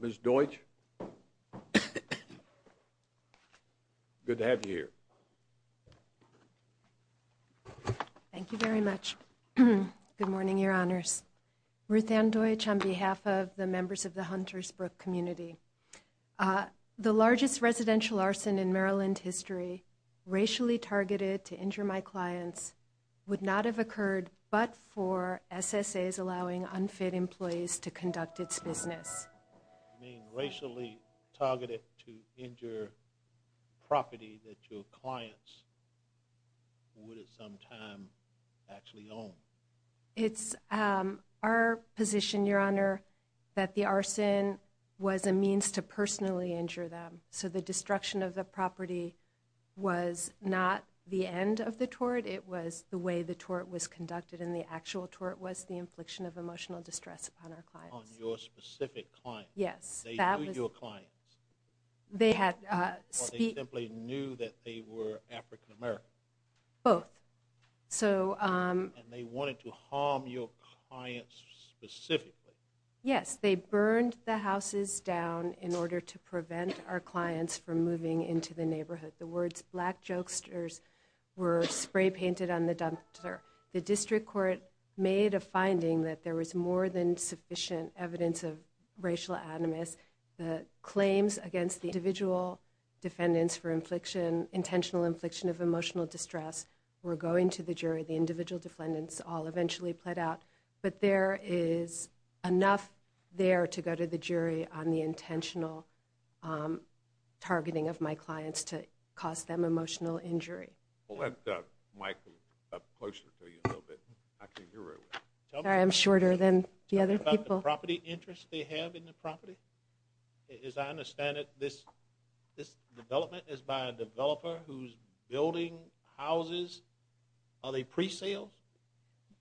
Ms. Deutch, good to have you here. Thank you very much. Good morning, Your Honors. Ruth Ann Deutch on behalf of the members of the Hunters Brook community. The largest residential arson in Maryland history, racially targeted to injure my clients, would not have occurred but for SSA's allowing unfit employees to conduct its business. You mean racially targeted to injure property that your clients would at some time actually own? It's our position, Your Honor, that the arson was a means to personally injure them. So the destruction of the property was not the end of the tort. It was the way the tort was conducted and the actual tort was the infliction of emotional distress upon our clients. On your specific clients? Yes. They knew your clients? They had... Or they simply knew that they were African-American? Both. So... And they wanted to harm your clients specifically? Yes. They burned the houses down in order to prevent our clients from moving into the neighborhood. The words black jokesters were spray painted on the dumpster. The district court made a finding that there was more than sufficient evidence of racial animus. The claims against the individual defendants for infliction, intentional infliction of influence all eventually played out. But there is enough there to go to the jury on the intentional targeting of my clients to cause them emotional injury. I'll let Mike closer to you a little bit. I can't hear very well. Sorry, I'm shorter than the other people. Tell me about the property interest they have in the property. As I understand it, this development is by a developer who's building houses. Are they pre-sales?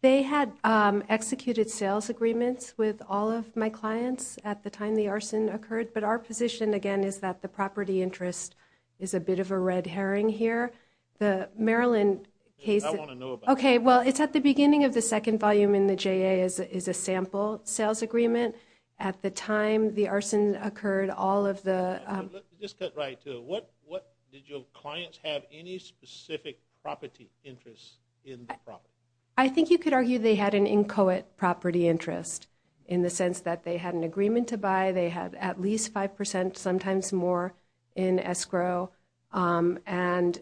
They had executed sales agreements with all of my clients at the time the arson occurred. But our position, again, is that the property interest is a bit of a red herring here. The Maryland case... I want to know about that. Okay. Well, it's at the beginning of the second volume in the JA is a sample sales agreement. At the time the arson occurred, all of the... Let me just cut right to it. Did your clients have any specific property interest in the property? I think you could argue they had an inchoate property interest in the sense that they had an agreement to buy. They had at least 5%, sometimes more, in escrow. And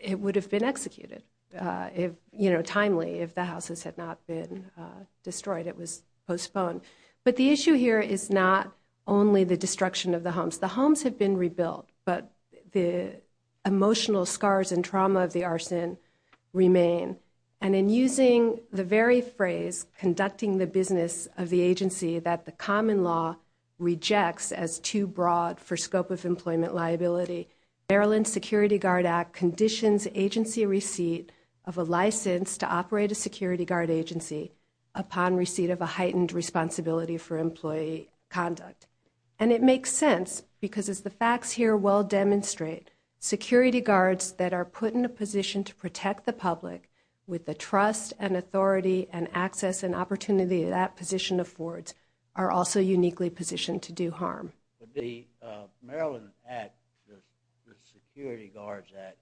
it would have been executed timely if the houses had not been destroyed. It was postponed. But the issue here is not only the destruction of the homes. The homes have been rebuilt, but the emotional scars and trauma of the arson remain. And in using the very phrase, conducting the business of the agency that the common law rejects as too broad for scope of employment liability, Maryland Security Guard Act conditions agency receipt of a license to operate a security guard agency upon receipt of a heightened responsibility for employee conduct. And it makes sense, because as the facts here well demonstrate, security guards that are put in a position to protect the public with the trust and authority and access and opportunity that position affords are also uniquely positioned to do harm. The Maryland Act, the Security Guards Act,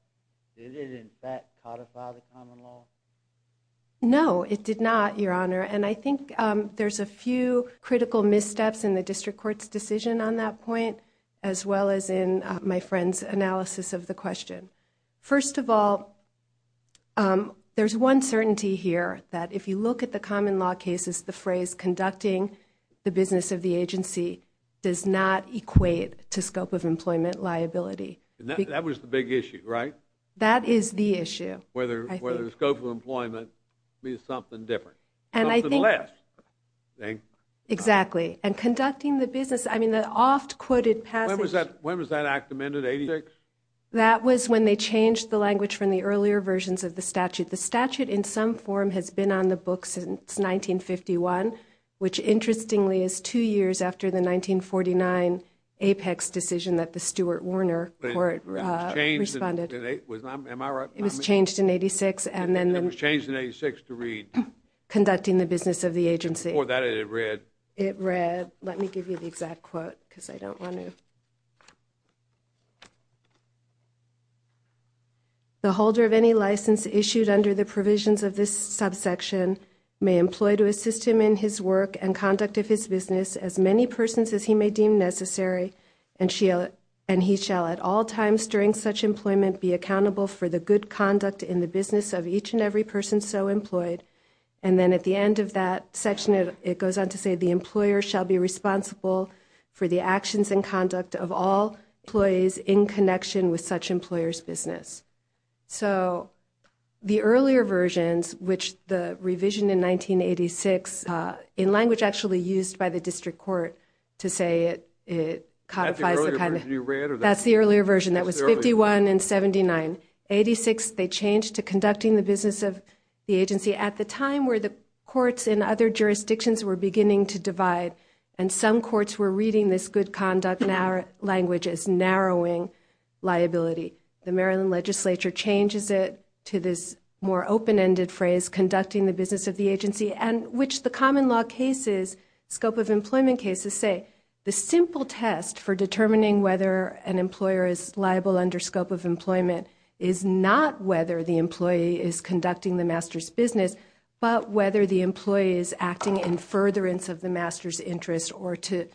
did it in fact codify the common law? No, it did not, Your Honor. And I think there's a few critical missteps in the district court's decision on that point, as well as in my friend's analysis of the question. First of all, there's one certainty here, that if you look at the common law cases, the phrase conducting the business of the agency does not equate to scope of employment liability. And that was the big issue, right? That is the issue. Whether the scope of employment means something different. Something less. I think. Exactly. And conducting the business, I mean, the oft-quoted passage. When was that act amended, 86? That was when they changed the language from the earlier versions of the statute. The statute, in some form, has been on the books since 1951, which interestingly is two years after the 1949 Apex decision that the Stuart Warner court responded. Am I right? It was changed in 86, and then then. It was changed in 86 to read. Conducting the business of the agency. Before that, it read. It read. Let me give you the exact quote, because I don't want to. The holder of any license issued under the provisions of this subsection may employ to assist him in his work and conduct of his business as many persons as he may deem necessary, and he shall at all times during such employment be accountable for the good conduct in the every person so employed. And then at the end of that section, it goes on to say the employer shall be responsible for the actions and conduct of all employees in connection with such employer's business. So the earlier versions, which the revision in 1986, in language actually used by the district court to say it codifies the kind of. That's the earlier version. That was 51 and 79. 86, they changed to conducting the business of the agency at the time where the courts in other jurisdictions were beginning to divide, and some courts were reading this good conduct in our language as narrowing liability. The Maryland legislature changes it to this more open-ended phrase, conducting the business of the agency, and which the common law cases, scope of employment cases, say the simple test for determining whether an employer is liable under scope of employment is not whether the employee is conducting the master's business, but whether the employee is acting in furtherance of the master's interest or to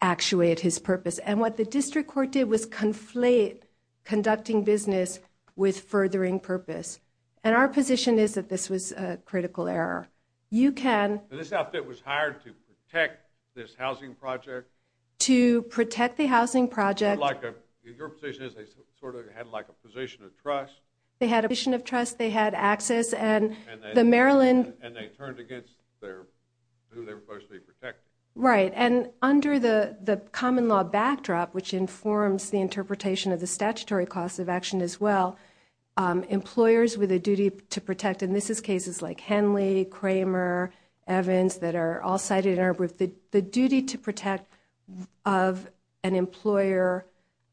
actuate his purpose. And what the district court did was conflate conducting business with furthering purpose. And our position is that this was a critical error. You can. This outfit was hired to protect this housing project. To protect the housing project. Like a, your position is they sort of had like a position of trust. They had a position of trust, they had access, and the Maryland. And they turned against their, who they were supposed to be protecting. Right, and under the common law backdrop, which informs the interpretation of the statutory cost of action as well, employers with a duty to protect, and this is cases like Henley, Kramer, Evans, that are all cited in our group, the duty to protect of an employer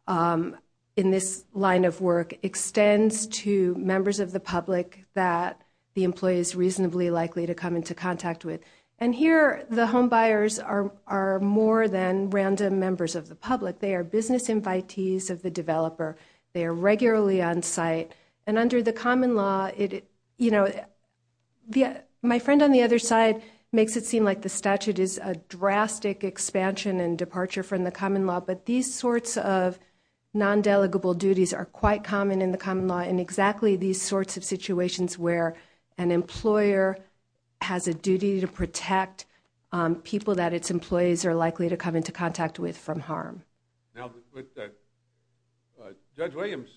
in this line of work extends to members of the public that the employee is reasonably likely to come into contact with. And here the homebuyers are more than random members of the public. They are business invitees of the developer. They are regularly on site. And under the common law, it, you know, the, my friend on the other side makes it seem like the statute is a drastic expansion and departure from the common law. But these sorts of non-delegable duties are quite common in the common law in exactly these sorts of situations where an employer has a duty to protect people that its employees are likely to come into contact with from harm. Now, Judge Williams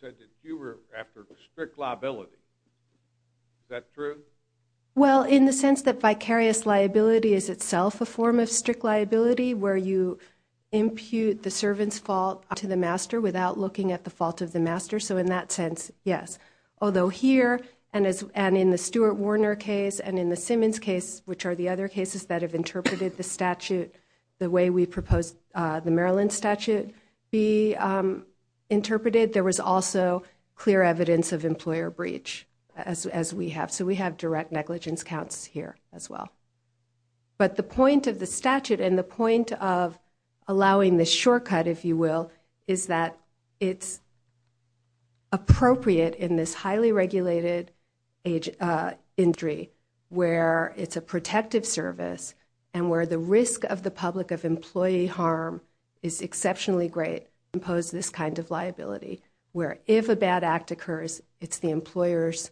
said that you were after strict liability. Is that true? Well, in the sense that vicarious liability is itself a form of strict liability where you impute the servant's fault to the master without looking at the fault of the master. So in that sense, yes. Although here, and in the Stuart Warner case, and in the Simmons case, which are the other cases that have interpreted the statute the way we proposed the Maryland statute be interpreted, there was also clear evidence of employer breach as we have. So we have direct negligence counts here as well. But the point of the statute and the point of allowing the shortcut, if you will, is that it's appropriate in this highly regulated age, injury where it's a protective service and where the risk of the public of employee harm is exceptionally great, impose this kind of liability, where if a bad act occurs, it's the employer's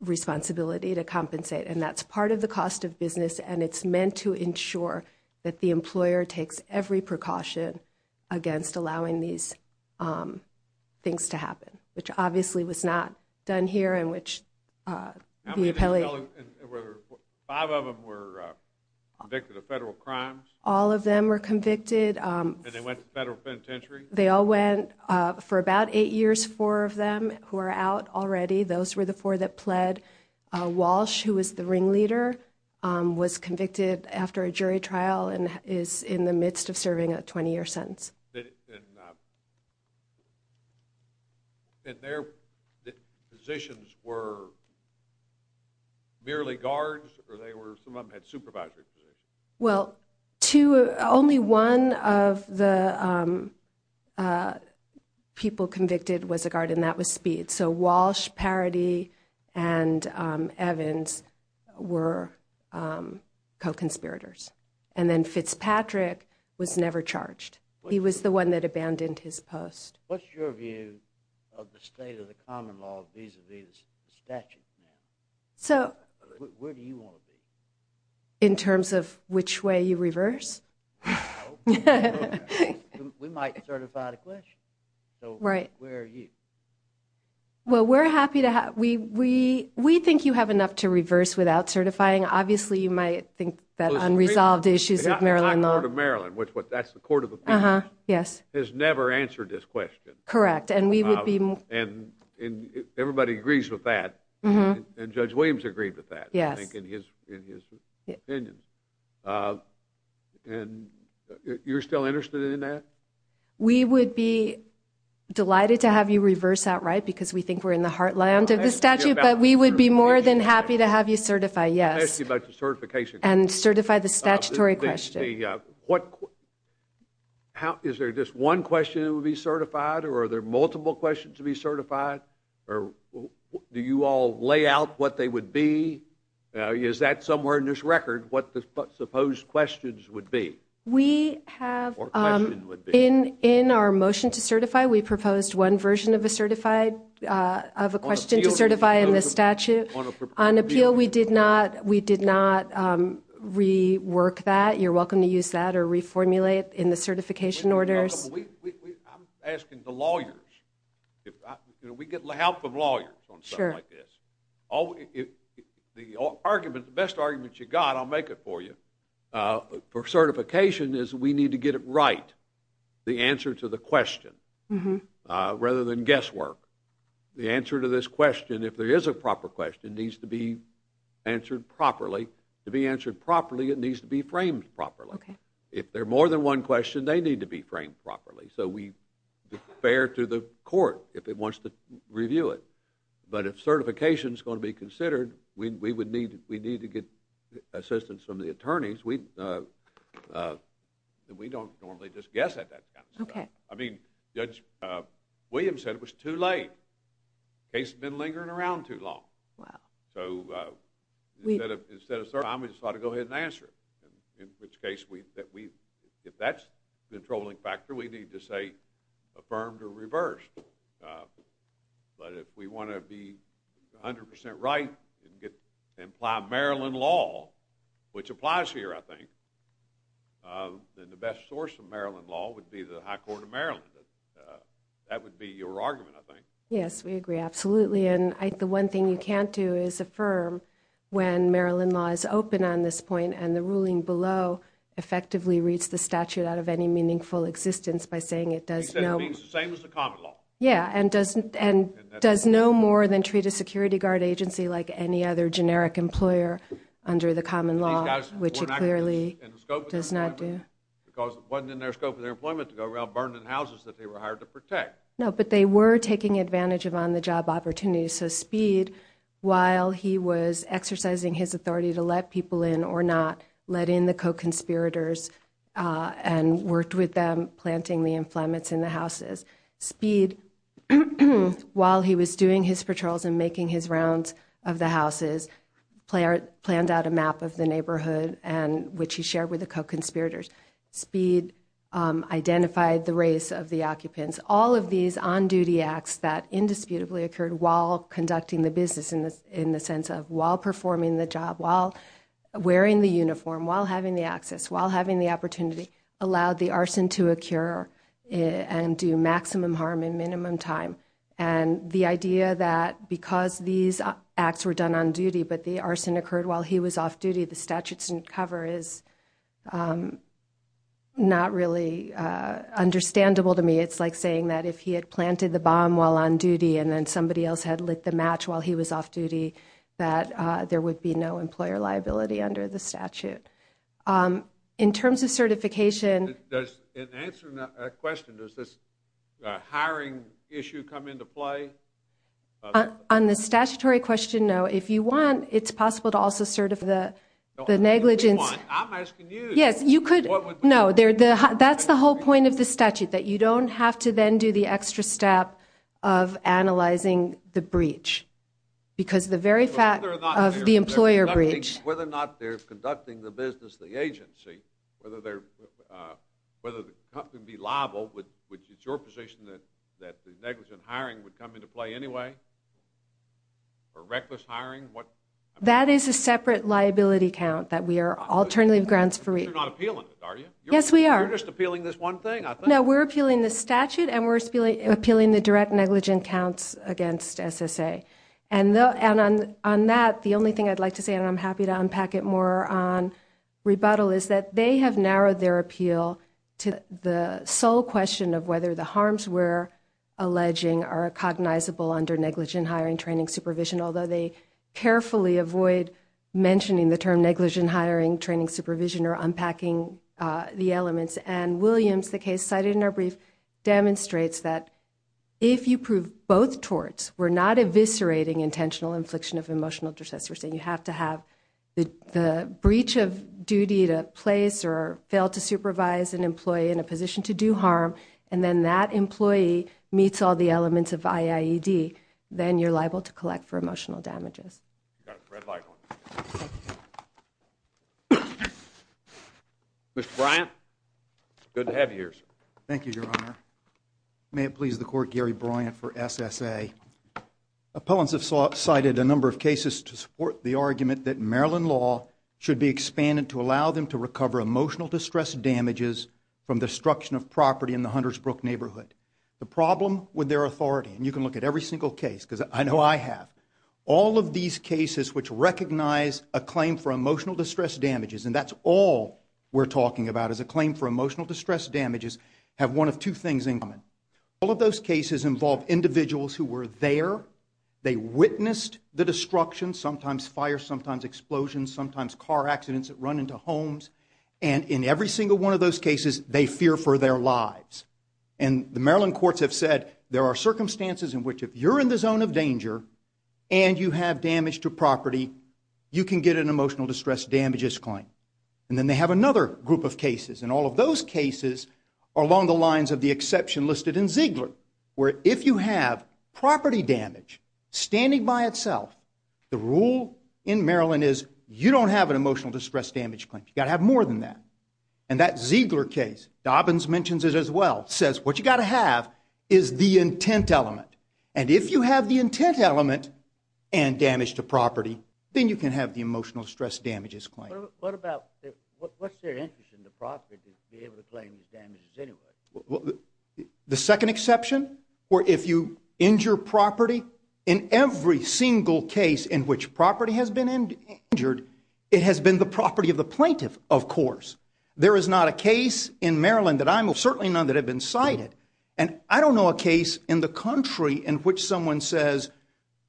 responsibility to compensate. And that's part of the cost of business, and it's meant to ensure that the employer takes every precaution against allowing these things to happen, which obviously was not done here and which the appellee. And five of them were convicted of federal crimes? All of them were convicted. And they went to federal penitentiary? They all went. For about eight years, four of them who are out already, those were the four that pled. Walsh, who was the ringleader, was convicted after a jury trial and is in the midst of serving a 20-year sentence. And their positions were merely guards, or some of them had supervisory positions? Well, only one of the people convicted was a guard, and that was Speed. So Walsh, Parody, and Evans were co-conspirators. And then Fitzpatrick was never charged. He was the one that abandoned his post. What's your view of the state of the common law vis-a-vis the statute? Where do you want to be? In terms of which way you reverse? We might certify the question. So where are you? Well, we think you have enough to reverse without certifying. Obviously, you might think that unresolved issues of Maryland law. The court of Maryland, that's the court of appeals, has never answered this question. Correct. And everybody agrees with that. And Judge Williams agreed with that, I think, in his opinion. And you're still interested in that? We would be delighted to have you reverse that right, because we think we're in the heartland of the statute. But we would be more than happy to have you certify, yes. And certify the statutory question. Is there just one question that would be certified? Or are there multiple questions to be certified? Do you all lay out what they would be? Is that somewhere in this record, what the supposed questions would be? In our motion to certify, we proposed one version of a question to certify in the statute. On appeal, we did not rework that. You're welcome to use that or reformulate in the certification orders. I'm asking the lawyers. We get help from lawyers on something like this. The best argument you got, I'll make it for you, for certification is we need to get it right. The answer to the question, rather than guesswork. The answer to this question, if there is a proper question, needs to be answered properly. To be answered properly, it needs to be framed properly. If there are more than one question, they need to be framed properly. So we defer to the court if it wants to review it. But if certification is going to be considered, we need to get assistance from the attorneys. Judge Williams said it was too late. The case had been lingering around too long. So instead of certifying, we just thought we'd go ahead and answer it. In which case, if that's the controlling factor, we need to say affirmed or reversed. But if we want to be 100% right and apply Maryland law, which applies here, I think, then the best source of Maryland law would be the High Court of Maryland. That would be your argument, I think. Yes, we agree, absolutely. And the one thing you can't do is affirm when Maryland law is open on this point and the ruling below effectively reads the statute out of any meaningful existence by saying it does no— He said it means the same as the common law. Yeah, and does no more than treat a security guard agency like any other generic employer under the common law, which it clearly does not do. Because it wasn't in their scope of their employment to go around burning houses that they were hired to protect. No, but they were taking advantage of on-the-job opportunities. So Speed, while he was exercising his authority to let people in or not, let in the co-conspirators and worked with them planting the inflammants in the houses. Speed, while he was doing his patrols and making his rounds of the houses, planned out a map of the neighborhood, which he shared with the co-conspirators. Speed identified the race of the occupants. All of these on-duty acts that indisputably occurred while conducting the business, in the sense of while performing the job, while wearing the uniform, while having the access, while having the opportunity, allowed the arson to occur and do maximum harm in minimum time. And the idea that because these acts were done on duty, but the arson occurred while he was off-duty, the statute didn't cover is not really understandable to me. It's like saying that if he had planted the bomb while on-duty and then somebody else had lit the match while he was off-duty, that there would be no employer liability under the statute. In terms of certification... In answering that question, does this hiring issue come into play? On the statutory question, no. If you want, it's possible to also sort of the negligence... I'm asking you. Yes, you could. No, that's the whole point of the statute, that you don't have to then do the extra step of analyzing the breach. Because the very fact of the employer breach... Whether the company would be liable, which is your position, that the negligent hiring would come into play anyway? Or reckless hiring? That is a separate liability count that we are alternative grounds for... You're not appealing it, are you? Yes, we are. You're just appealing this one thing? No, we're appealing the statute and we're appealing the direct negligent counts against SSA. And on that, the only thing I'd like to say, and I'm happy to unpack it more on rebuttal, is that they have narrowed their appeal to the sole question of whether the harms we're alleging are cognizable under negligent hiring training supervision, although they carefully avoid mentioning the term negligent hiring training supervision or unpacking the elements. And Williams, the case cited in our brief, demonstrates that if you prove both torts, we're not eviscerating intentional infliction of emotional distress. We're saying you have to have the breach of duty to place or fail to supervise an employee in a position to do harm, and then that employee meets all the elements of IAED, then you're liable to collect for emotional damages. You've got a red light on you. Mr. Bryant, good to have you here, sir. Thank you, Your Honor. May it please the Court, Gary Bryant for SSA. Appellants have cited a number of cases to support the argument that Maryland law should be expanded to allow them to recover emotional distress damages from destruction of property in the Hunters Brook neighborhood. The problem with their authority, and you can look at every single case because I know I have, all of these cases which recognize a claim for emotional distress damages, and that's all we're talking about is a claim for emotional distress damages, have one of two things in common. All of those cases involve individuals who were there, they witnessed the destruction, sometimes fire, sometimes explosions, sometimes car accidents that run into homes, and in every single one of those cases they fear for their lives. And the Maryland courts have said there are circumstances in which if you're in the zone of danger and you have damage to property, you can get an emotional distress damages claim. And then they have another group of cases, and all of those cases are along the lines of the exception listed in Ziegler, where if you have property damage standing by itself, the rule in Maryland is you don't have an emotional distress damage claim. You've got to have more than that. And that Ziegler case, Dobbins mentions it as well, says what you've got to have is the intent element. And if you have the intent element and damage to property, then you can have the emotional distress damages claim. What's their interest in the property to be able to claim these damages anyway? The second exception, where if you injure property, in every single case in which property has been injured, it has been the property of the plaintiff, of course. There is not a case in Maryland that I know of, certainly none that have been cited, and I don't know a case in the country in which someone says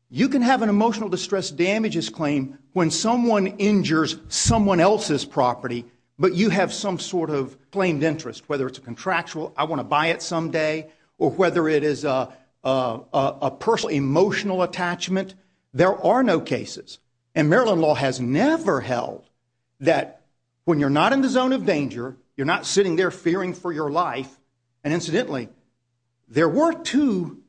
you can have an emotional distress damages claim when someone injures someone else's property, but you have some sort of claimed interest, whether it's a contractual, I want to buy it someday, or whether it is a personal emotional attachment. There are no cases. And Maryland law has never held that when you're not in the zone of danger, you're not sitting there fearing for your life, and incidentally, there were two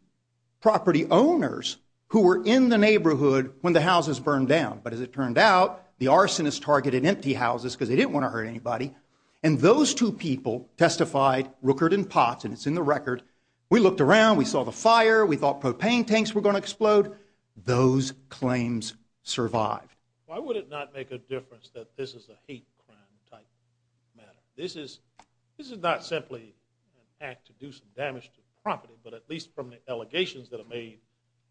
property owners who were in the neighborhood when the houses burned down, but as it turned out, the arsonists targeted empty houses because they didn't want to hurt anybody, and those two people testified, Rooker and Potts, and it's in the record, we looked around, we saw the fire, we thought propane tanks were going to explode, those claims survived. Why would it not make a difference that this is a hate crime type matter? This is not simply an act to do some damage to property, but at least from the allegations that are made,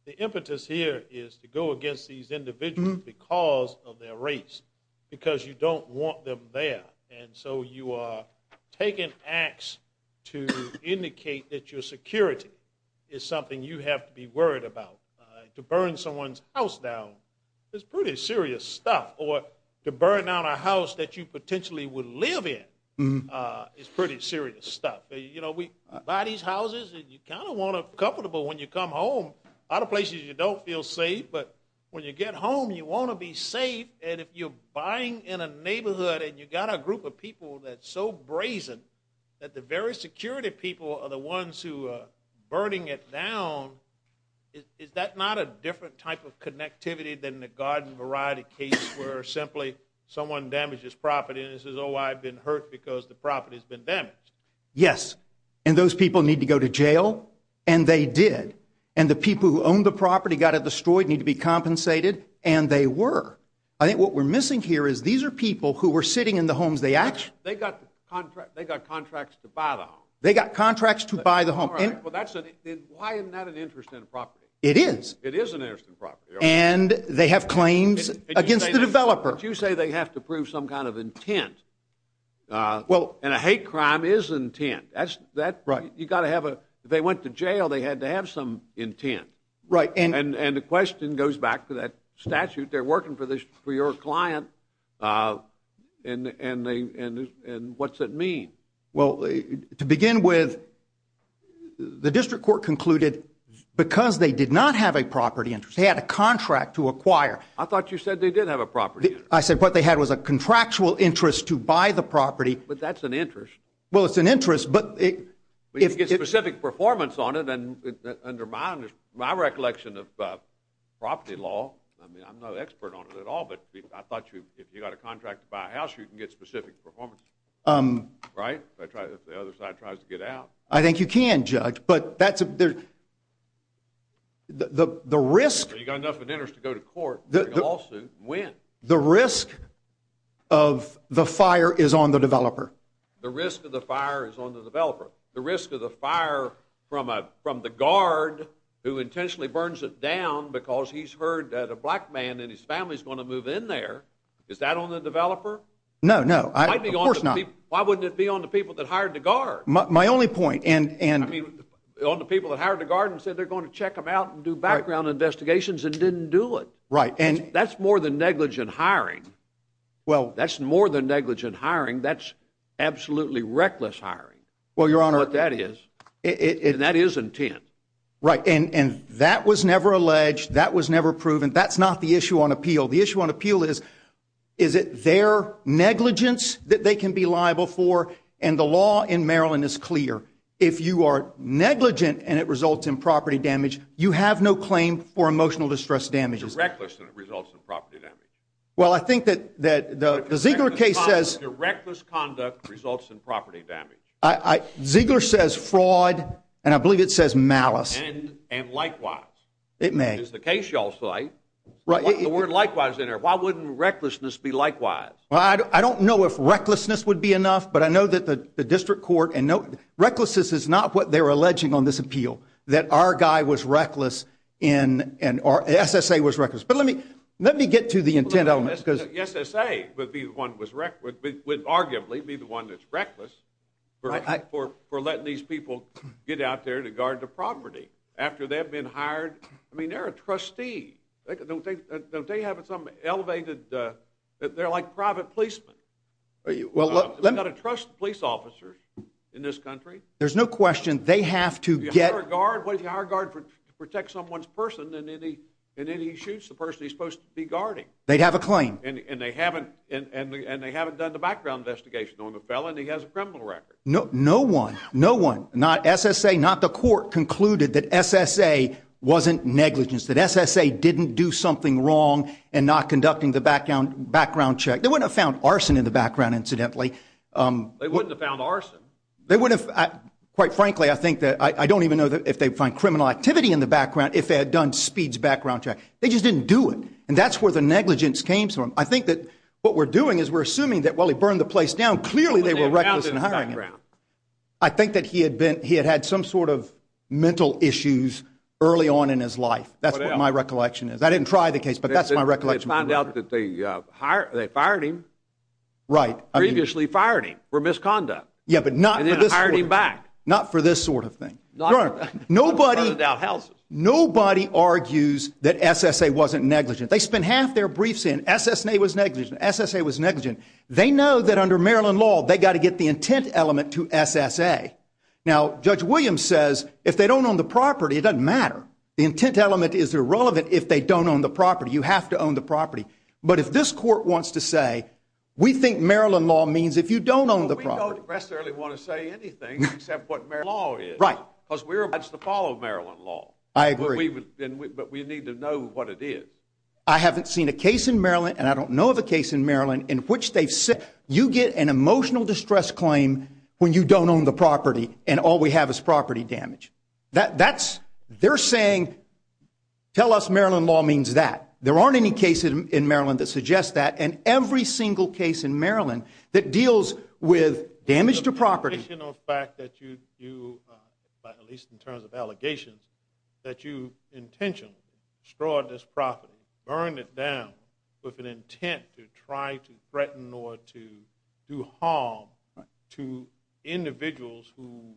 the impetus here is to go against these individuals because of their race, because you don't want them there, and so you are taking acts to indicate that your security is something you have to be worried about. To burn someone's house down is pretty serious stuff, or to burn down a house that you potentially would live in is pretty serious stuff. We buy these houses, and you kind of want them comfortable when you come home. A lot of places you don't feel safe, but when you get home, you want to be safe, and if you're buying in a neighborhood and you've got a group of people that's so brazen that the very security people are the ones who are burning it down, is that not a different type of connectivity than the garden variety case where simply someone damages property and says, oh, I've been hurt because the property's been damaged? Yes, and those people need to go to jail, and they did, and the people who owned the property got it destroyed, need to be compensated, and they were. I think what we're missing here is these are people who were sitting in the homes they actually— They got contracts to buy the home. They got contracts to buy the home. Why isn't that an interest in a property? It is. It is an interest in a property. And they have claims against the developer. But you say they have to prove some kind of intent, and a hate crime is intent. You've got to have a—if they went to jail, they had to have some intent, and the question goes back to that statute. They're working for your client, and what's it mean? Well, to begin with, the district court concluded, because they did not have a property interest, they had a contract to acquire. I thought you said they did have a property interest. I said what they had was a contractual interest to buy the property. But that's an interest. Well, it's an interest, but it— But you can get specific performance on it, and under my recollection of property law, I mean, I'm no expert on it at all, but I thought if you got a contract to buy a house, you can get specific performance, right? If the other side tries to get out. I think you can, Judge. But that's—the risk— Well, you've got enough of an interest to go to court. You can lawsuit and win. The risk of the fire is on the developer. The risk of the fire is on the developer. The risk of the fire from the guard who intentionally burns it down because he's heard that a black man and his family is going to move in there, is that on the developer? No, no. Of course not. Why wouldn't it be on the people that hired the guard? My only point, and— I mean, on the people that hired the guard and said they're going to check them out and do background investigations and didn't do it. Right, and— That's more than negligent hiring. Well— That's more than negligent hiring. That's absolutely reckless hiring. Well, Your Honor— And that is intent. Right, and that was never alleged. That was never proven. That's not the issue on appeal. The issue on appeal is, is it their negligence that they can be liable for? And the law in Maryland is clear. If you are negligent and it results in property damage, you have no claim for emotional distress damages. It's reckless and it results in property damage. Well, I think that the Ziegler case says— Reckless conduct results in property damage. Ziegler says fraud, and I believe it says malice. And likewise. It may. It's the case you all cite. Right. The word likewise in there. Why wouldn't recklessness be likewise? Well, I don't know if recklessness would be enough, but I know that the district court— and no, recklessness is not what they're alleging on this appeal, that our guy was reckless in— SSA was reckless. But let me get to the intent element, because— We're letting these people get out there to guard the property after they've been hired. I mean, they're a trustee. Don't they have some elevated— they're like private policemen. You've got to trust police officers in this country. There's no question they have to get— You hire a guard. What if you hire a guard to protect someone's person, and then he shoots the person he's supposed to be guarding? They'd have a claim. And they haven't done the background investigation on the felon. No one, no one, not SSA, not the court, concluded that SSA wasn't negligence, that SSA didn't do something wrong in not conducting the background check. They wouldn't have found arson in the background, incidentally. They wouldn't have found arson. Quite frankly, I think that— I don't even know if they'd find criminal activity in the background if they had done Speed's background check. They just didn't do it. And that's where the negligence came from. I think that what we're doing is we're assuming that, while he burned the place down, clearly they were reckless in hiring him. I think that he had been—he had had some sort of mental issues early on in his life. That's what my recollection is. I didn't try the case, but that's my recollection. They found out that they fired him. Right. Previously fired him for misconduct. Yeah, but not for this sort of thing. And then hired him back. Not for this sort of thing. Nobody argues that SSA wasn't negligent. They spent half their briefs saying SSA was negligent. SSA was negligent. They know that under Maryland law, they've got to get the intent element to SSA. Now, Judge Williams says, if they don't own the property, it doesn't matter. The intent element is irrelevant if they don't own the property. You have to own the property. But if this court wants to say, we think Maryland law means if you don't own the property— We don't necessarily want to say anything except what Maryland law is. Right. Because we're obliged to follow Maryland law. I agree. But we need to know what it is. I haven't seen a case in Maryland, and I don't know of a case in Maryland in which they've said, you get an emotional distress claim when you don't own the property and all we have is property damage. That's—they're saying, tell us Maryland law means that. There aren't any cases in Maryland that suggest that. And every single case in Maryland that deals with damage to property— The fact that you, at least in terms of allegations, that you intentionally destroyed this property, burned it down with an intent to try to threaten or to do harm to individuals who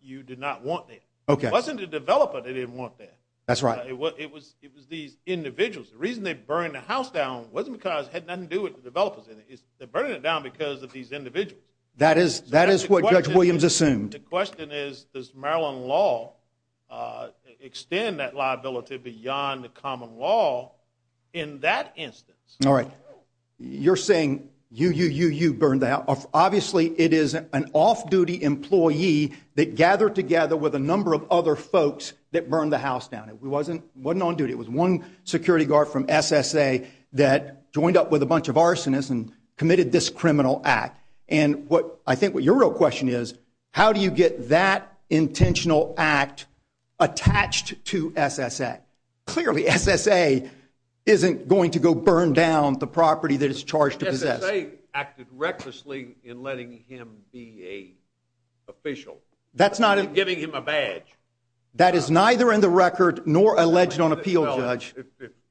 you did not want there. Okay. It wasn't the developer they didn't want there. That's right. It was these individuals. The reason they burned the house down wasn't because it had nothing to do with the developers in it. They're burning it down because of these individuals. That is what Judge Williams assumed. The question is, does Maryland law extend that liability beyond the common law in that instance? All right. You're saying you, you, you, you burned the house. Obviously, it is an off-duty employee that gathered together with a number of other folks that burned the house down. It wasn't on duty. It was one security guard from SSA that joined up with a bunch of arsonists and committed this criminal act. I think what your real question is, how do you get that intentional act attached to SSA? Clearly, SSA isn't going to go burn down the property that it's charged to possess. SSA acted recklessly in letting him be a official. That's not a… In giving him a badge. That is neither in the record nor alleged on appeal, Judge.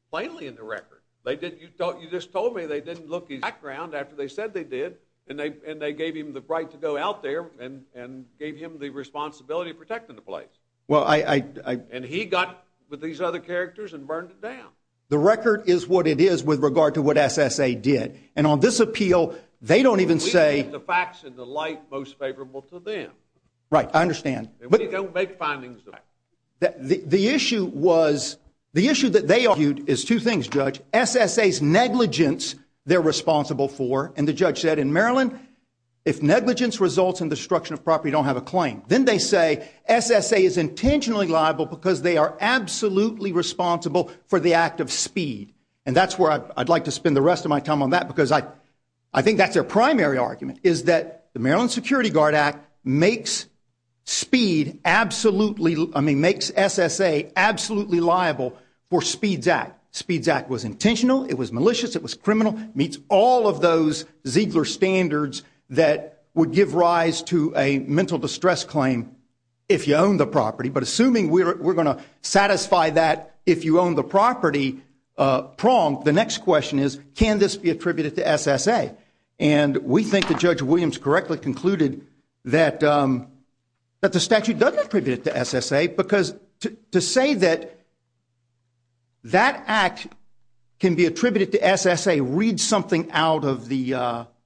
Plainly in the record. You just told me they didn't look at his background after they said they did and they gave him the right to go out there and gave him the responsibility of protecting the place. Well, I… And he got with these other characters and burned it down. The record is what it is with regard to what SSA did. And on this appeal, they don't even say… We make the facts and the light most favorable to them. Right. I understand. We don't make findings of facts. The issue was, the issue that they argued is two things, Judge. SSA's negligence they're responsible for, and the judge said in Maryland, if negligence results in the destruction of property, you don't have a claim. Then they say SSA is intentionally liable because they are absolutely responsible for the act of speed. And that's where I'd like to spend the rest of my time on that because I think that's their primary argument, is that the Maryland Security Guard Act makes speed absolutely… I mean, makes SSA absolutely liable for Speed's Act. Speed's Act was intentional. It was malicious. It was criminal. It meets all of those Ziegler standards that would give rise to a mental distress claim if you own the property. But assuming we're going to satisfy that if you own the property prompt, the next question is, can this be attributed to SSA? And we think that Judge Williams correctly concluded that the statute doesn't attribute it to SSA because to say that that act can be attributed to SSA reads something out of the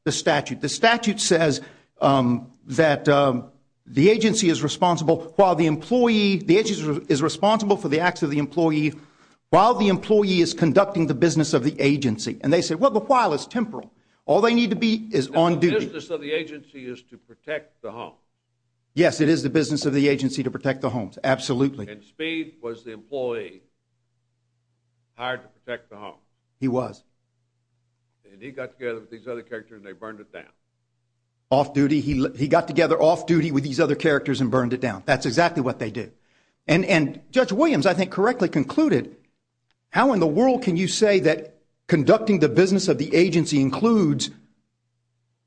statute. The statute says that the agency is responsible for the acts of the employee while the employee is conducting the business of the agency. And they say, well, the while is temporal. All they need to be is on duty. The business of the agency is to protect the home. Yes, it is the business of the agency to protect the homes, absolutely. And Speed was the employee hired to protect the home. He was. And he got together with these other characters and they burned it down. Off duty. He got together off duty with these other characters and burned it down. That's exactly what they did. And Judge Williams, I think, correctly concluded, how in the world can you say that conducting the business of the agency includes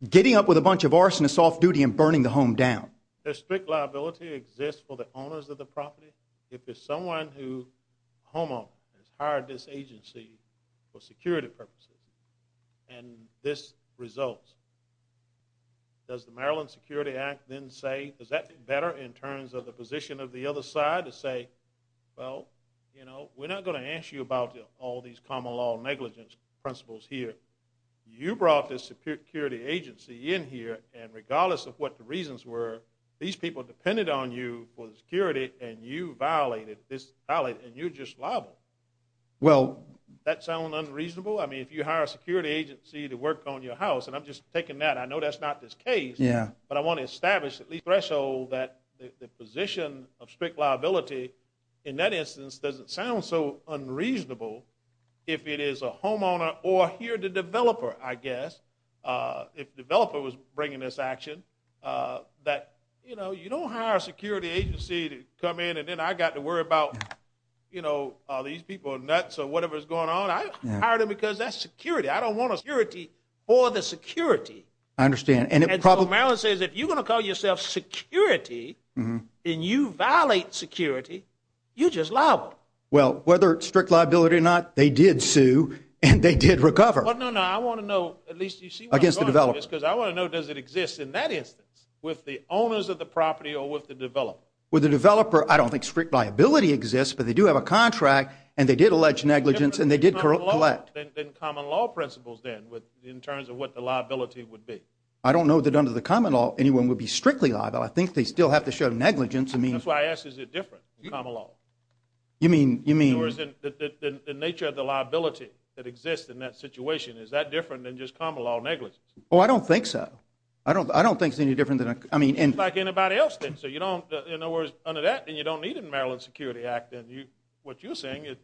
getting up with a bunch of arsonists off duty and burning the home down? A strict liability exists for the owners of the property. If there's someone who, a homeowner, has hired this agency for security purposes and this results, does the Maryland Security Act then say, does that better in terms of the position of the other side to say, well, you know, we're not going to ask you about all these common law negligence principles here. You brought this security agency in here and regardless of what the reasons were, these people depended on you for security and you violated this and you're just liable. Well. That sound unreasonable? I mean, if you hire a security agency to work on your house, and I'm just taking that, I know that's not this case. Yeah. But I want to establish the threshold that the position of strict liability, in that instance, doesn't sound so unreasonable if it is a homeowner or here the developer, I guess. If the developer was bringing this action, that, you know, you don't hire a security agency to come in and then I got to worry about, you know, these people are nuts or whatever's going on. I hired him because that's security. I don't want a security for the security. I understand. And so Maryland says if you're going to call yourself security and you violate security, you're just liable. Well, whether it's strict liability or not, they did sue and they did recover. Well, no, no. I want to know, at least you see what I'm going through. Against the developer. Because I want to know does it exist in that instance with the owners of the property or with the developer? With the developer, I don't think strict liability exists, but they do have a contract and they did allege negligence and they did collect. Then common law principles then in terms of what the liability would be. I don't know that under the common law anyone would be strictly liable. I think they still have to show negligence. That's why I ask, is it different in common law? You mean? The nature of the liability that exists in that situation, is that different than just common law negligence? Oh, I don't think so. I don't think it's any different. Like anybody else then. So you don't, in other words, under that then you don't need a Maryland Security Act. What you're saying is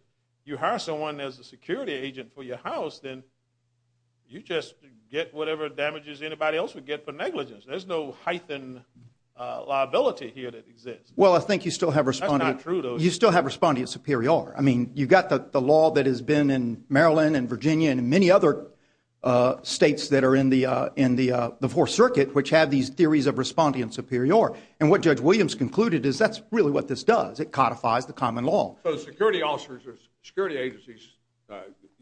you hire someone as a security agent for your house, then you just get whatever damages anybody else would get for negligence. There's no hyphen liability here that exists. Well, I think you still have responding. That's not true though. I mean, you've got the law that has been in Maryland and Virginia and many other states that are in the Fourth Circuit, which have these theories of respondean superior. And what Judge Williams concluded is that's really what this does. It codifies the common law. So the security officers or security agencies,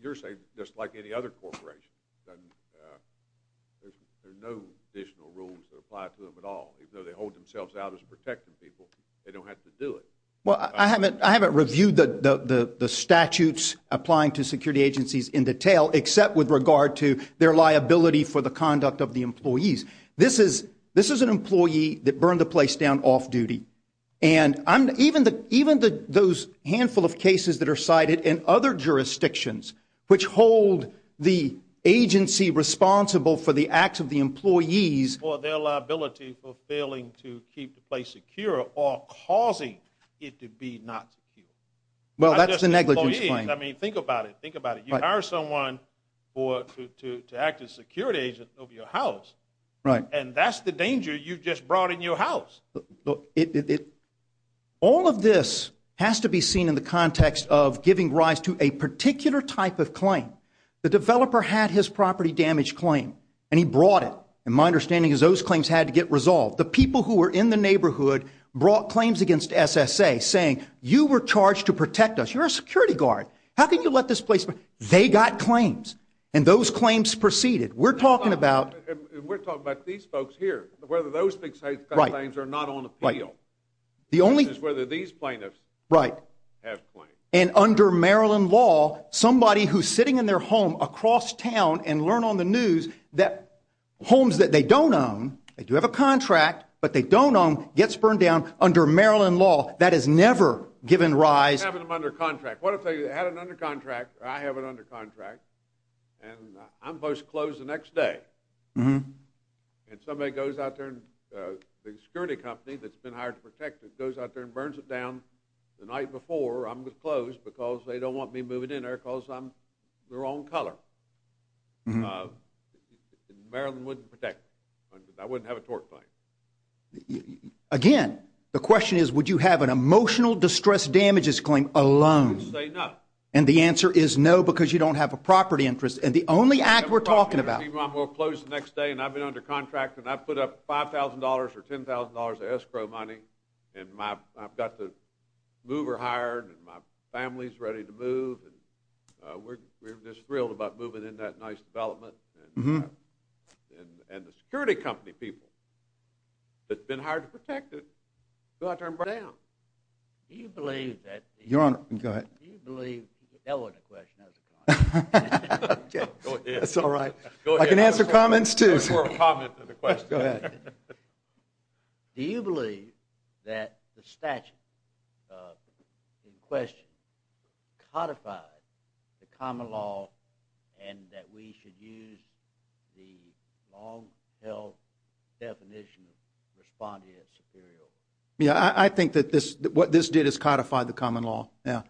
you're saying just like any other corporation, there's no additional rules that apply to them at all. Even though they hold themselves out as protecting people, they don't have to do it. Well, I haven't reviewed the statutes applying to security agencies in detail except with regard to their liability for the conduct of the employees. This is an employee that burned the place down off duty. And even those handful of cases that are cited in other jurisdictions which hold the agency responsible for the acts of the employees or their liability for failing to keep the place secure or causing it to be not secure. Well, that's the negligence claim. I mean, think about it. Think about it. You hire someone to act as a security agent of your house, and that's the danger you just brought in your house. All of this has to be seen in the context of giving rise to a particular type of claim. The developer had his property damaged claim, and he brought it. And my understanding is those claims had to get resolved. The people who were in the neighborhood brought claims against SSA saying, you were charged to protect us. You're a security guard. How can you let this place go? They got claims, and those claims proceeded. We're talking about these folks here, whether those claims are not on appeal. The only question is whether these plaintiffs have claims. And under Maryland law, somebody who's sitting in their home across town and learn on the news that homes that they don't own, they do have a contract, but they don't own, gets burned down under Maryland law. That has never given rise. Having them under contract. What if they had it under contract, or I have it under contract, and I'm supposed to close the next day, and somebody goes out there, the security company that's been hired to protect it, goes out there and burns it down the night before I'm disclosed because they don't want me moving in there because I'm the wrong color. Maryland wouldn't protect me. I wouldn't have a tort claim. Again, the question is, would you have an emotional distress damages claim alone? I would say no. And the answer is no, because you don't have a property interest. And the only act we're talking about. My property will close the next day, and I've been under contract, and I've put up $5,000 or $10,000 of escrow money, and I've got the mover hired, and my family's ready to move, and we're just thrilled about moving into that nice development. And the security company people that's been hired to protect it, go out there and burn it down. Do you believe that the— Your Honor, go ahead. Do you believe—that wasn't a question, that was a comment. Okay. Go ahead. That's all right. I can answer comments too. That was more of a comment than a question. Go ahead. Do you believe that the statute in question codified the common law and that we should use the long-held definition of respondent superiority? Yeah, I think that what this did is codified the common law, yeah.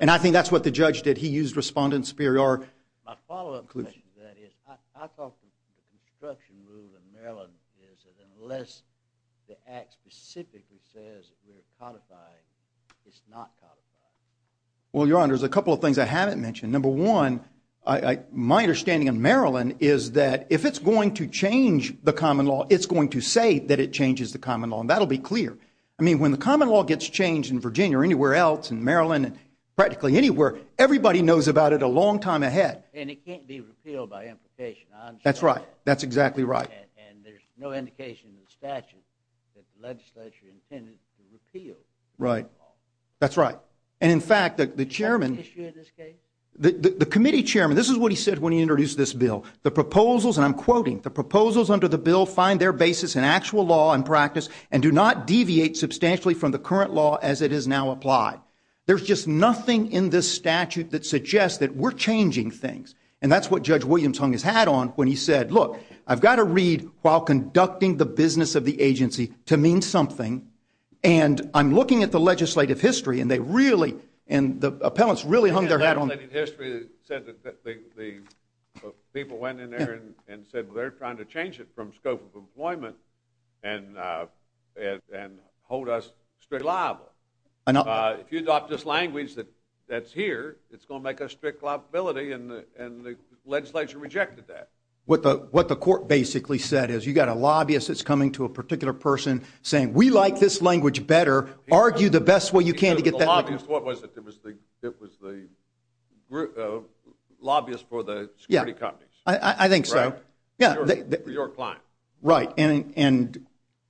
And I think that's what the judge did. He used respondent superiority. My follow-up question to that is, I thought the construction rule in Maryland is that unless the Act specifically says we're codifying, it's not codifying. Well, Your Honor, there's a couple of things I haven't mentioned. Number one, my understanding of Maryland is that if it's going to change the common law, it's going to say that it changes the common law, and that'll be clear. I mean, when the common law gets changed in Virginia or anywhere else, in Maryland, practically anywhere, everybody knows about it a long time ahead. And it can't be repealed by implication. That's right. That's exactly right. And there's no indication in the statute that the legislature intended to repeal the law. Right. That's right. And, in fact, the chairman, the committee chairman, this is what he said when he introduced this bill. The proposals, and I'm quoting, the proposals under the bill find their basis in actual law and practice and do not deviate substantially from the current law as it is now applied. There's just nothing in this statute that suggests that we're changing things. And that's what Judge Williams hung his hat on when he said, look, I've got to read while conducting the business of the agency to mean something. And I'm looking at the legislative history, and they really, and the appellants really hung their hat on. The legislative history said that the people went in there and said, well, they're trying to change it from scope of employment and hold us straight liable. If you adopt this language that's here, it's going to make us strict liability, and the legislature rejected that. What the court basically said is, you've got a lobbyist that's coming to a particular person saying, we like this language better. Argue the best way you can to get that. The lobbyist, what was it? It was the lobbyist for the security companies. I think so. For your client. Right.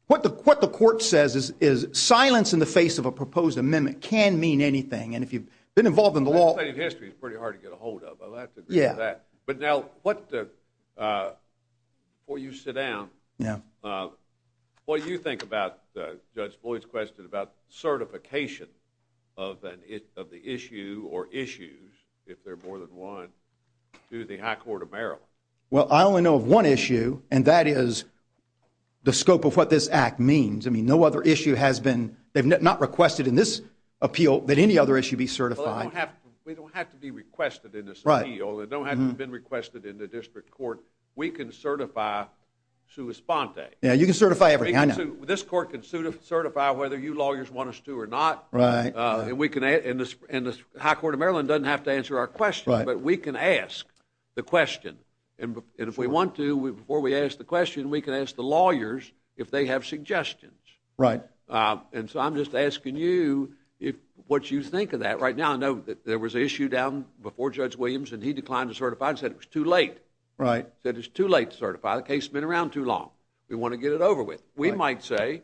What the court says is, silence in the face of a proposed amendment can mean anything, and if you've been involved in the law. Legislative history is pretty hard to get a hold of. I'll have to agree with that. Yeah. But now, before you sit down, what do you think about Judge Boyd's question about certification of the issue or issues, if there are more than one, to the high court of Maryland? Well, I only know of one issue, and that is the scope of what this act means. I mean, no other issue has been, they've not requested in this appeal that any other issue be certified. Well, we don't have to be requested in this appeal. It don't have to have been requested in the district court. We can certify sua sponte. Yeah, you can certify everything. I know. This court can certify whether you lawyers want us to or not. Right. And the high court of Maryland doesn't have to answer our question, but we can ask the question. And if we want to, before we ask the question, we can ask the lawyers if they have suggestions. Right. And so I'm just asking you what you think of that. Right now, I know that there was an issue down before Judge Williams, and he declined to certify and said it was too late. Right. Said it's too late to certify. The case has been around too long. We want to get it over with. We might say,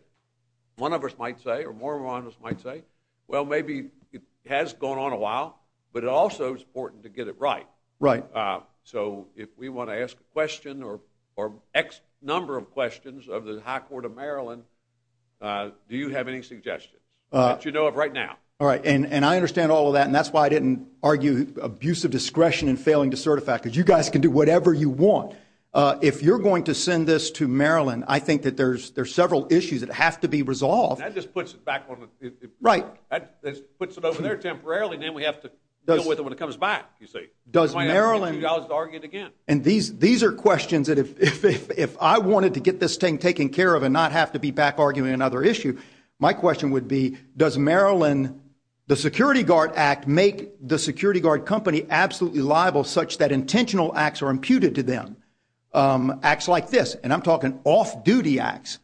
one of us might say, or more of us might say, well, maybe it has gone on a while, but it also is important to get it right. Right. So if we want to ask a question or X number of questions of the high court of Maryland, do you have any suggestions that you know of right now? All right. And I understand all of that, and that's why I didn't argue abusive discretion in failing to certify, because you guys can do whatever you want. If you're going to send this to Maryland, I think that there's several issues that have to be resolved. That just puts it back on the floor. Right. That puts it over there temporarily, and then we have to deal with it when it comes back, you see. We might have to get $2 to argue it again. And these are questions that if I wanted to get this thing taken care of and not have to be back arguing another issue, my question would be, does Maryland, the Security Guard Act, make the security guard company absolutely liable such that intentional acts are imputed to them? Acts like this, and I'm talking off-duty acts,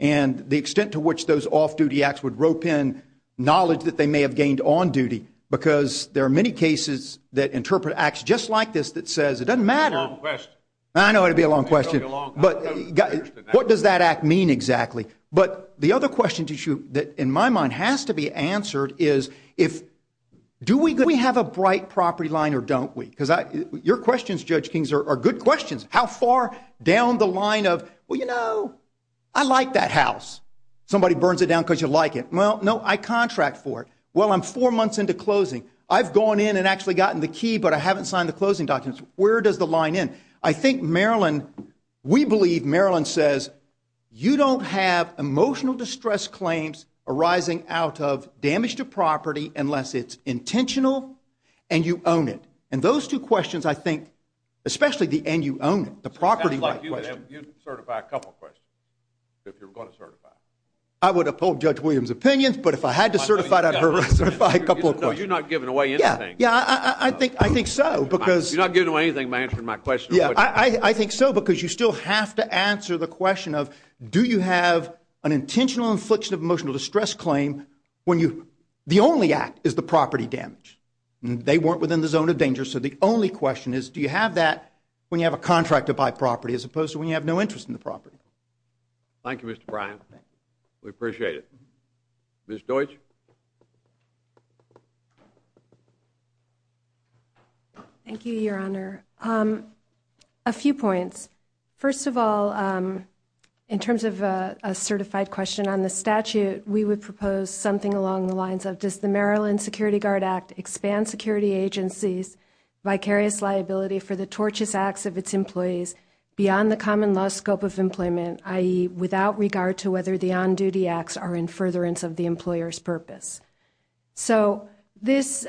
and the extent to which those off-duty acts would rope in knowledge that they may have gained on duty, because there are many cases that interpret acts just like this that says, it doesn't matter. It's a long question. I know it would be a long question. What does that act mean exactly? But the other question that in my mind has to be answered is, do we have a bright property line or don't we? Because your questions, Judge Kings, are good questions. How far down the line of, well, you know, I like that house. Somebody burns it down because you like it. Well, no, I contract for it. Well, I'm four months into closing. I've gone in and actually gotten the key, but I haven't signed the closing documents. Where does the line end? I think Maryland, we believe Maryland says, you don't have emotional distress claims arising out of damage to property unless it's intentional and you own it. And those two questions, I think, especially the and you own it, the property right question. You'd certify a couple of questions if you're going to certify. I would uphold Judge Williams' opinion, but if I had to certify it, I'd certify a couple of questions. No, you're not giving away anything. Yeah, I think so. You're not giving away anything by answering my question. Yeah, I think so, because you still have to answer the question of, do you have an intentional infliction of emotional distress claim when you, the only act is the property damage. They weren't within the zone of danger. So the only question is, do you have that when you have a contract to buy property as opposed to when you have no interest in the property? Thank you, Mr. Bryan. We appreciate it. Ms. Deutsch. Thank you, Your Honor. A few points. First of all, in terms of a certified question on the statute, we would propose something along the lines of, does the Maryland Security Guard Act expand security agencies' vicarious liability for the tortious acts of its employees beyond the common law scope of employment, i.e., without regard to whether the on-duty acts are in furtherance of the employer's purpose? So this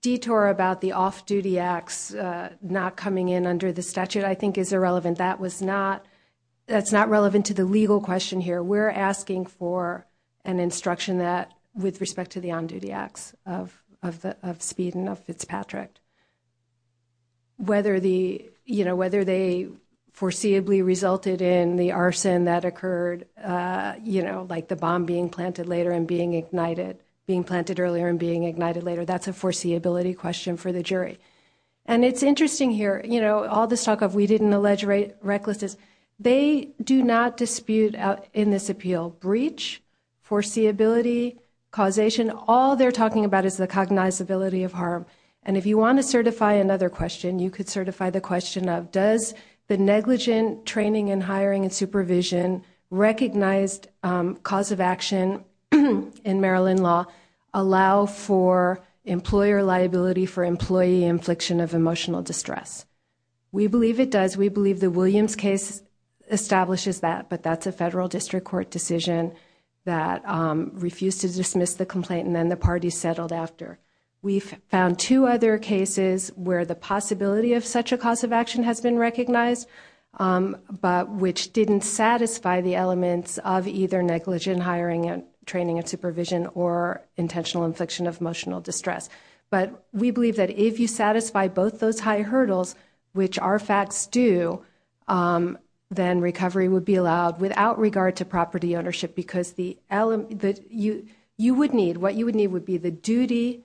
detour about the off-duty acts not coming in under the statute, I think, is irrelevant. That's not relevant to the legal question here. We're asking for an instruction that, with respect to the on-duty acts of Speed and of Fitzpatrick, whether they foreseeably resulted in the arson that occurred, like the bomb being planted later and being ignited, being planted earlier and being ignited later. That's a foreseeability question for the jury. And it's interesting here. All this talk of we didn't allege recklessness, they do not dispute in this appeal breach, foreseeability, causation. All they're talking about is the cognizability of harm. And if you want to certify another question, you could certify the question of, does the negligent training and hiring and supervision recognized cause of action in Maryland law allow for employer liability for employee infliction of emotional distress? We believe it does. We believe the Williams case establishes that, but that's a federal district court decision that refused to dismiss the complaint and then the parties settled after. We've found two other cases where the possibility of such a cause of action has been recognized, but which didn't satisfy the elements of either negligent hiring and training and supervision or intentional infliction of emotional distress. But we believe that if you satisfy both those high hurdles, which our facts do, then recovery would be allowed without regard to property ownership, because you would need, what you would need would be the duty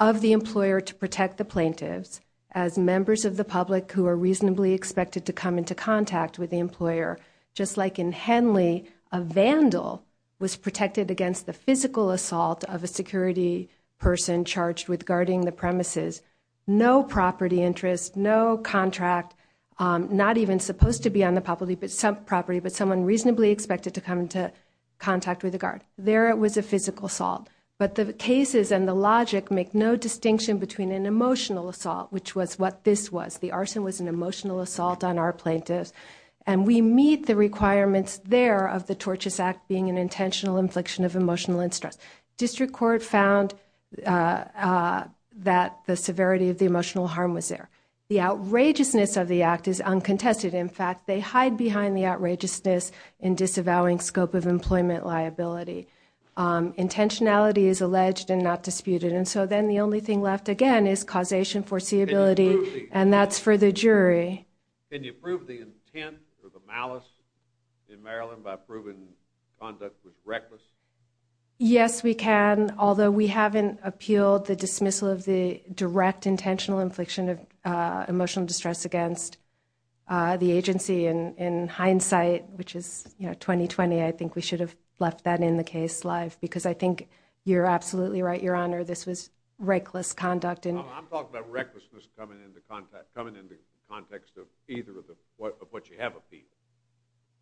of the employer to protect the plaintiffs as members of the public who are reasonably expected to come into contact with the employer. Just like in Henley, a vandal was protected against the physical assault of a security person charged with guarding the premises. No property interest, no contract, not even supposed to be on the property, but someone reasonably expected to come into contact with the guard. There it was a physical assault. But the cases and the logic make no distinction between an emotional assault, which was what this was. The arson was an emotional assault on our plaintiffs. And we meet the requirements there of the Torches Act being an intentional infliction of emotional distress. District court found that the severity of the emotional harm was there. The outrageousness of the act is uncontested. In fact, they hide behind the outrageousness in disavowing scope of employment liability. Intentionality is alleged and not disputed. And so then the only thing left again is causation foreseeability, and that's for the jury. Can you prove the intent or the malice in Maryland by proving conduct was reckless? Yes, we can. Although we haven't appealed the dismissal of the direct intentional infliction of emotional distress against the agency in hindsight, which is 2020. I think we should have left that in the case live because I think you're absolutely right. Your honor, this was reckless conduct. And I'm talking about recklessness coming into contact, coming into context of either of the, of what you have a fee.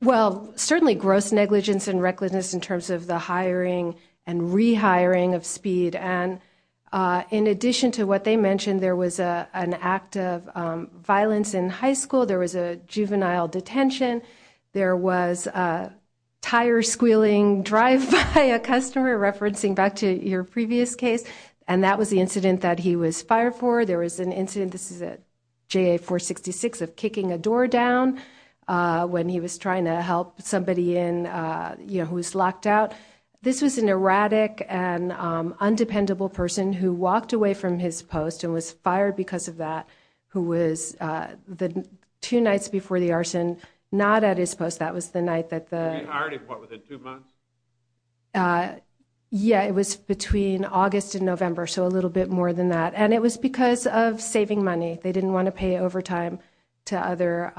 Well, certainly gross negligence and recklessness in terms of the hiring and rehiring of speed. And in addition to what they mentioned, there was a, an act of violence in high school. There was a juvenile detention. There was a tire squealing drive by a customer referencing back to your previous case. And that was the incident that he was fired for. There was an incident. This is a J four 66 of kicking a door down when he was trying to help somebody in, you know, who was locked out. This was an erratic and undependable person who walked away from his post and was fired because of that, who was the two nights before the arson, not at his post. That was the night that the. Yeah, it was between August and November. So a little bit more than that. And it was because of saving money. They didn't want to pay overtime to other,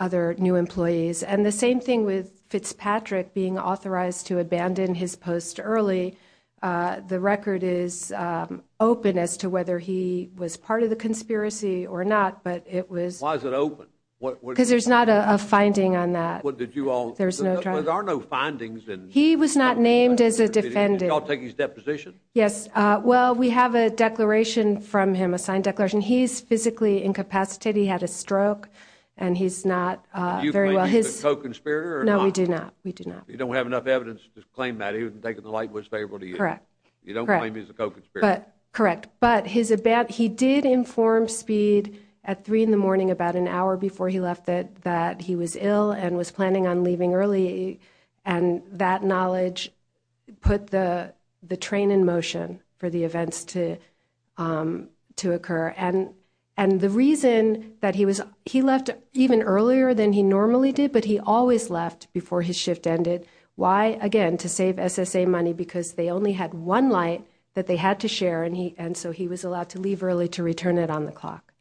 other new employees. And the same thing with Fitzpatrick being authorized to abandon his post early. The record is open as to whether he was part of the conspiracy or not, but it was, why is it open? Because there's not a finding on that. What did you all, there's no, there are no findings. And he was not named as a defendant. I'll take his deposition. Yes. Well, we have a declaration from him, a signed declaration. He's physically incapacitated. He had a stroke and he's not very well. His co-conspirator. No, we do not. We do not. You don't have enough evidence to claim that he wasn't taking the light was favorable to you. Correct. You don't claim he's a co-conspirator. Correct. But his, a bad, he did inform speed at three in the morning, about an hour before he left it, that he was ill and was planning on leaving early. And that knowledge put the, the train in motion for the events to, to occur. And, and the reason that he was, he left even earlier than he normally did, but he always left before his shift ended. Why again, to save SSA money, because they only had one light that they had to share. And he, and so he was allowed to leave early to return it on the clock.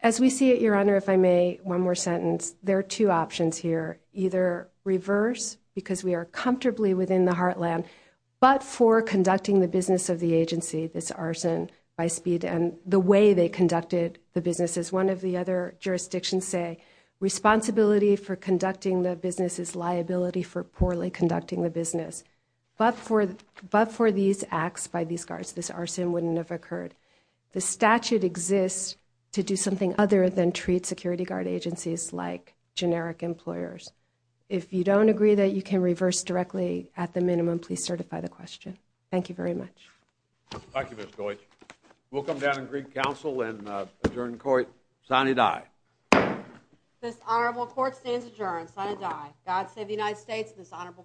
As we see it, your honor, if I may, one more sentence, there are two options here, either reverse, because we are comfortably within the heartland, but for conducting the business of the agency, this arson by speed and the way they conducted the businesses. One of the other jurisdictions say responsibility for conducting the business is liability for poorly conducting the business, but for, but for these acts by these guards, this arson wouldn't have occurred. The statute exists to do something other than treat security guard agencies like generic employers. If you don't agree that you can reverse directly at the minimum, please certify the question. Thank you very much. Thank you, miss. We'll come down and greet council and adjourn court. Sunny die. This honorable court stands adjourned. God save the United States. This honorable court.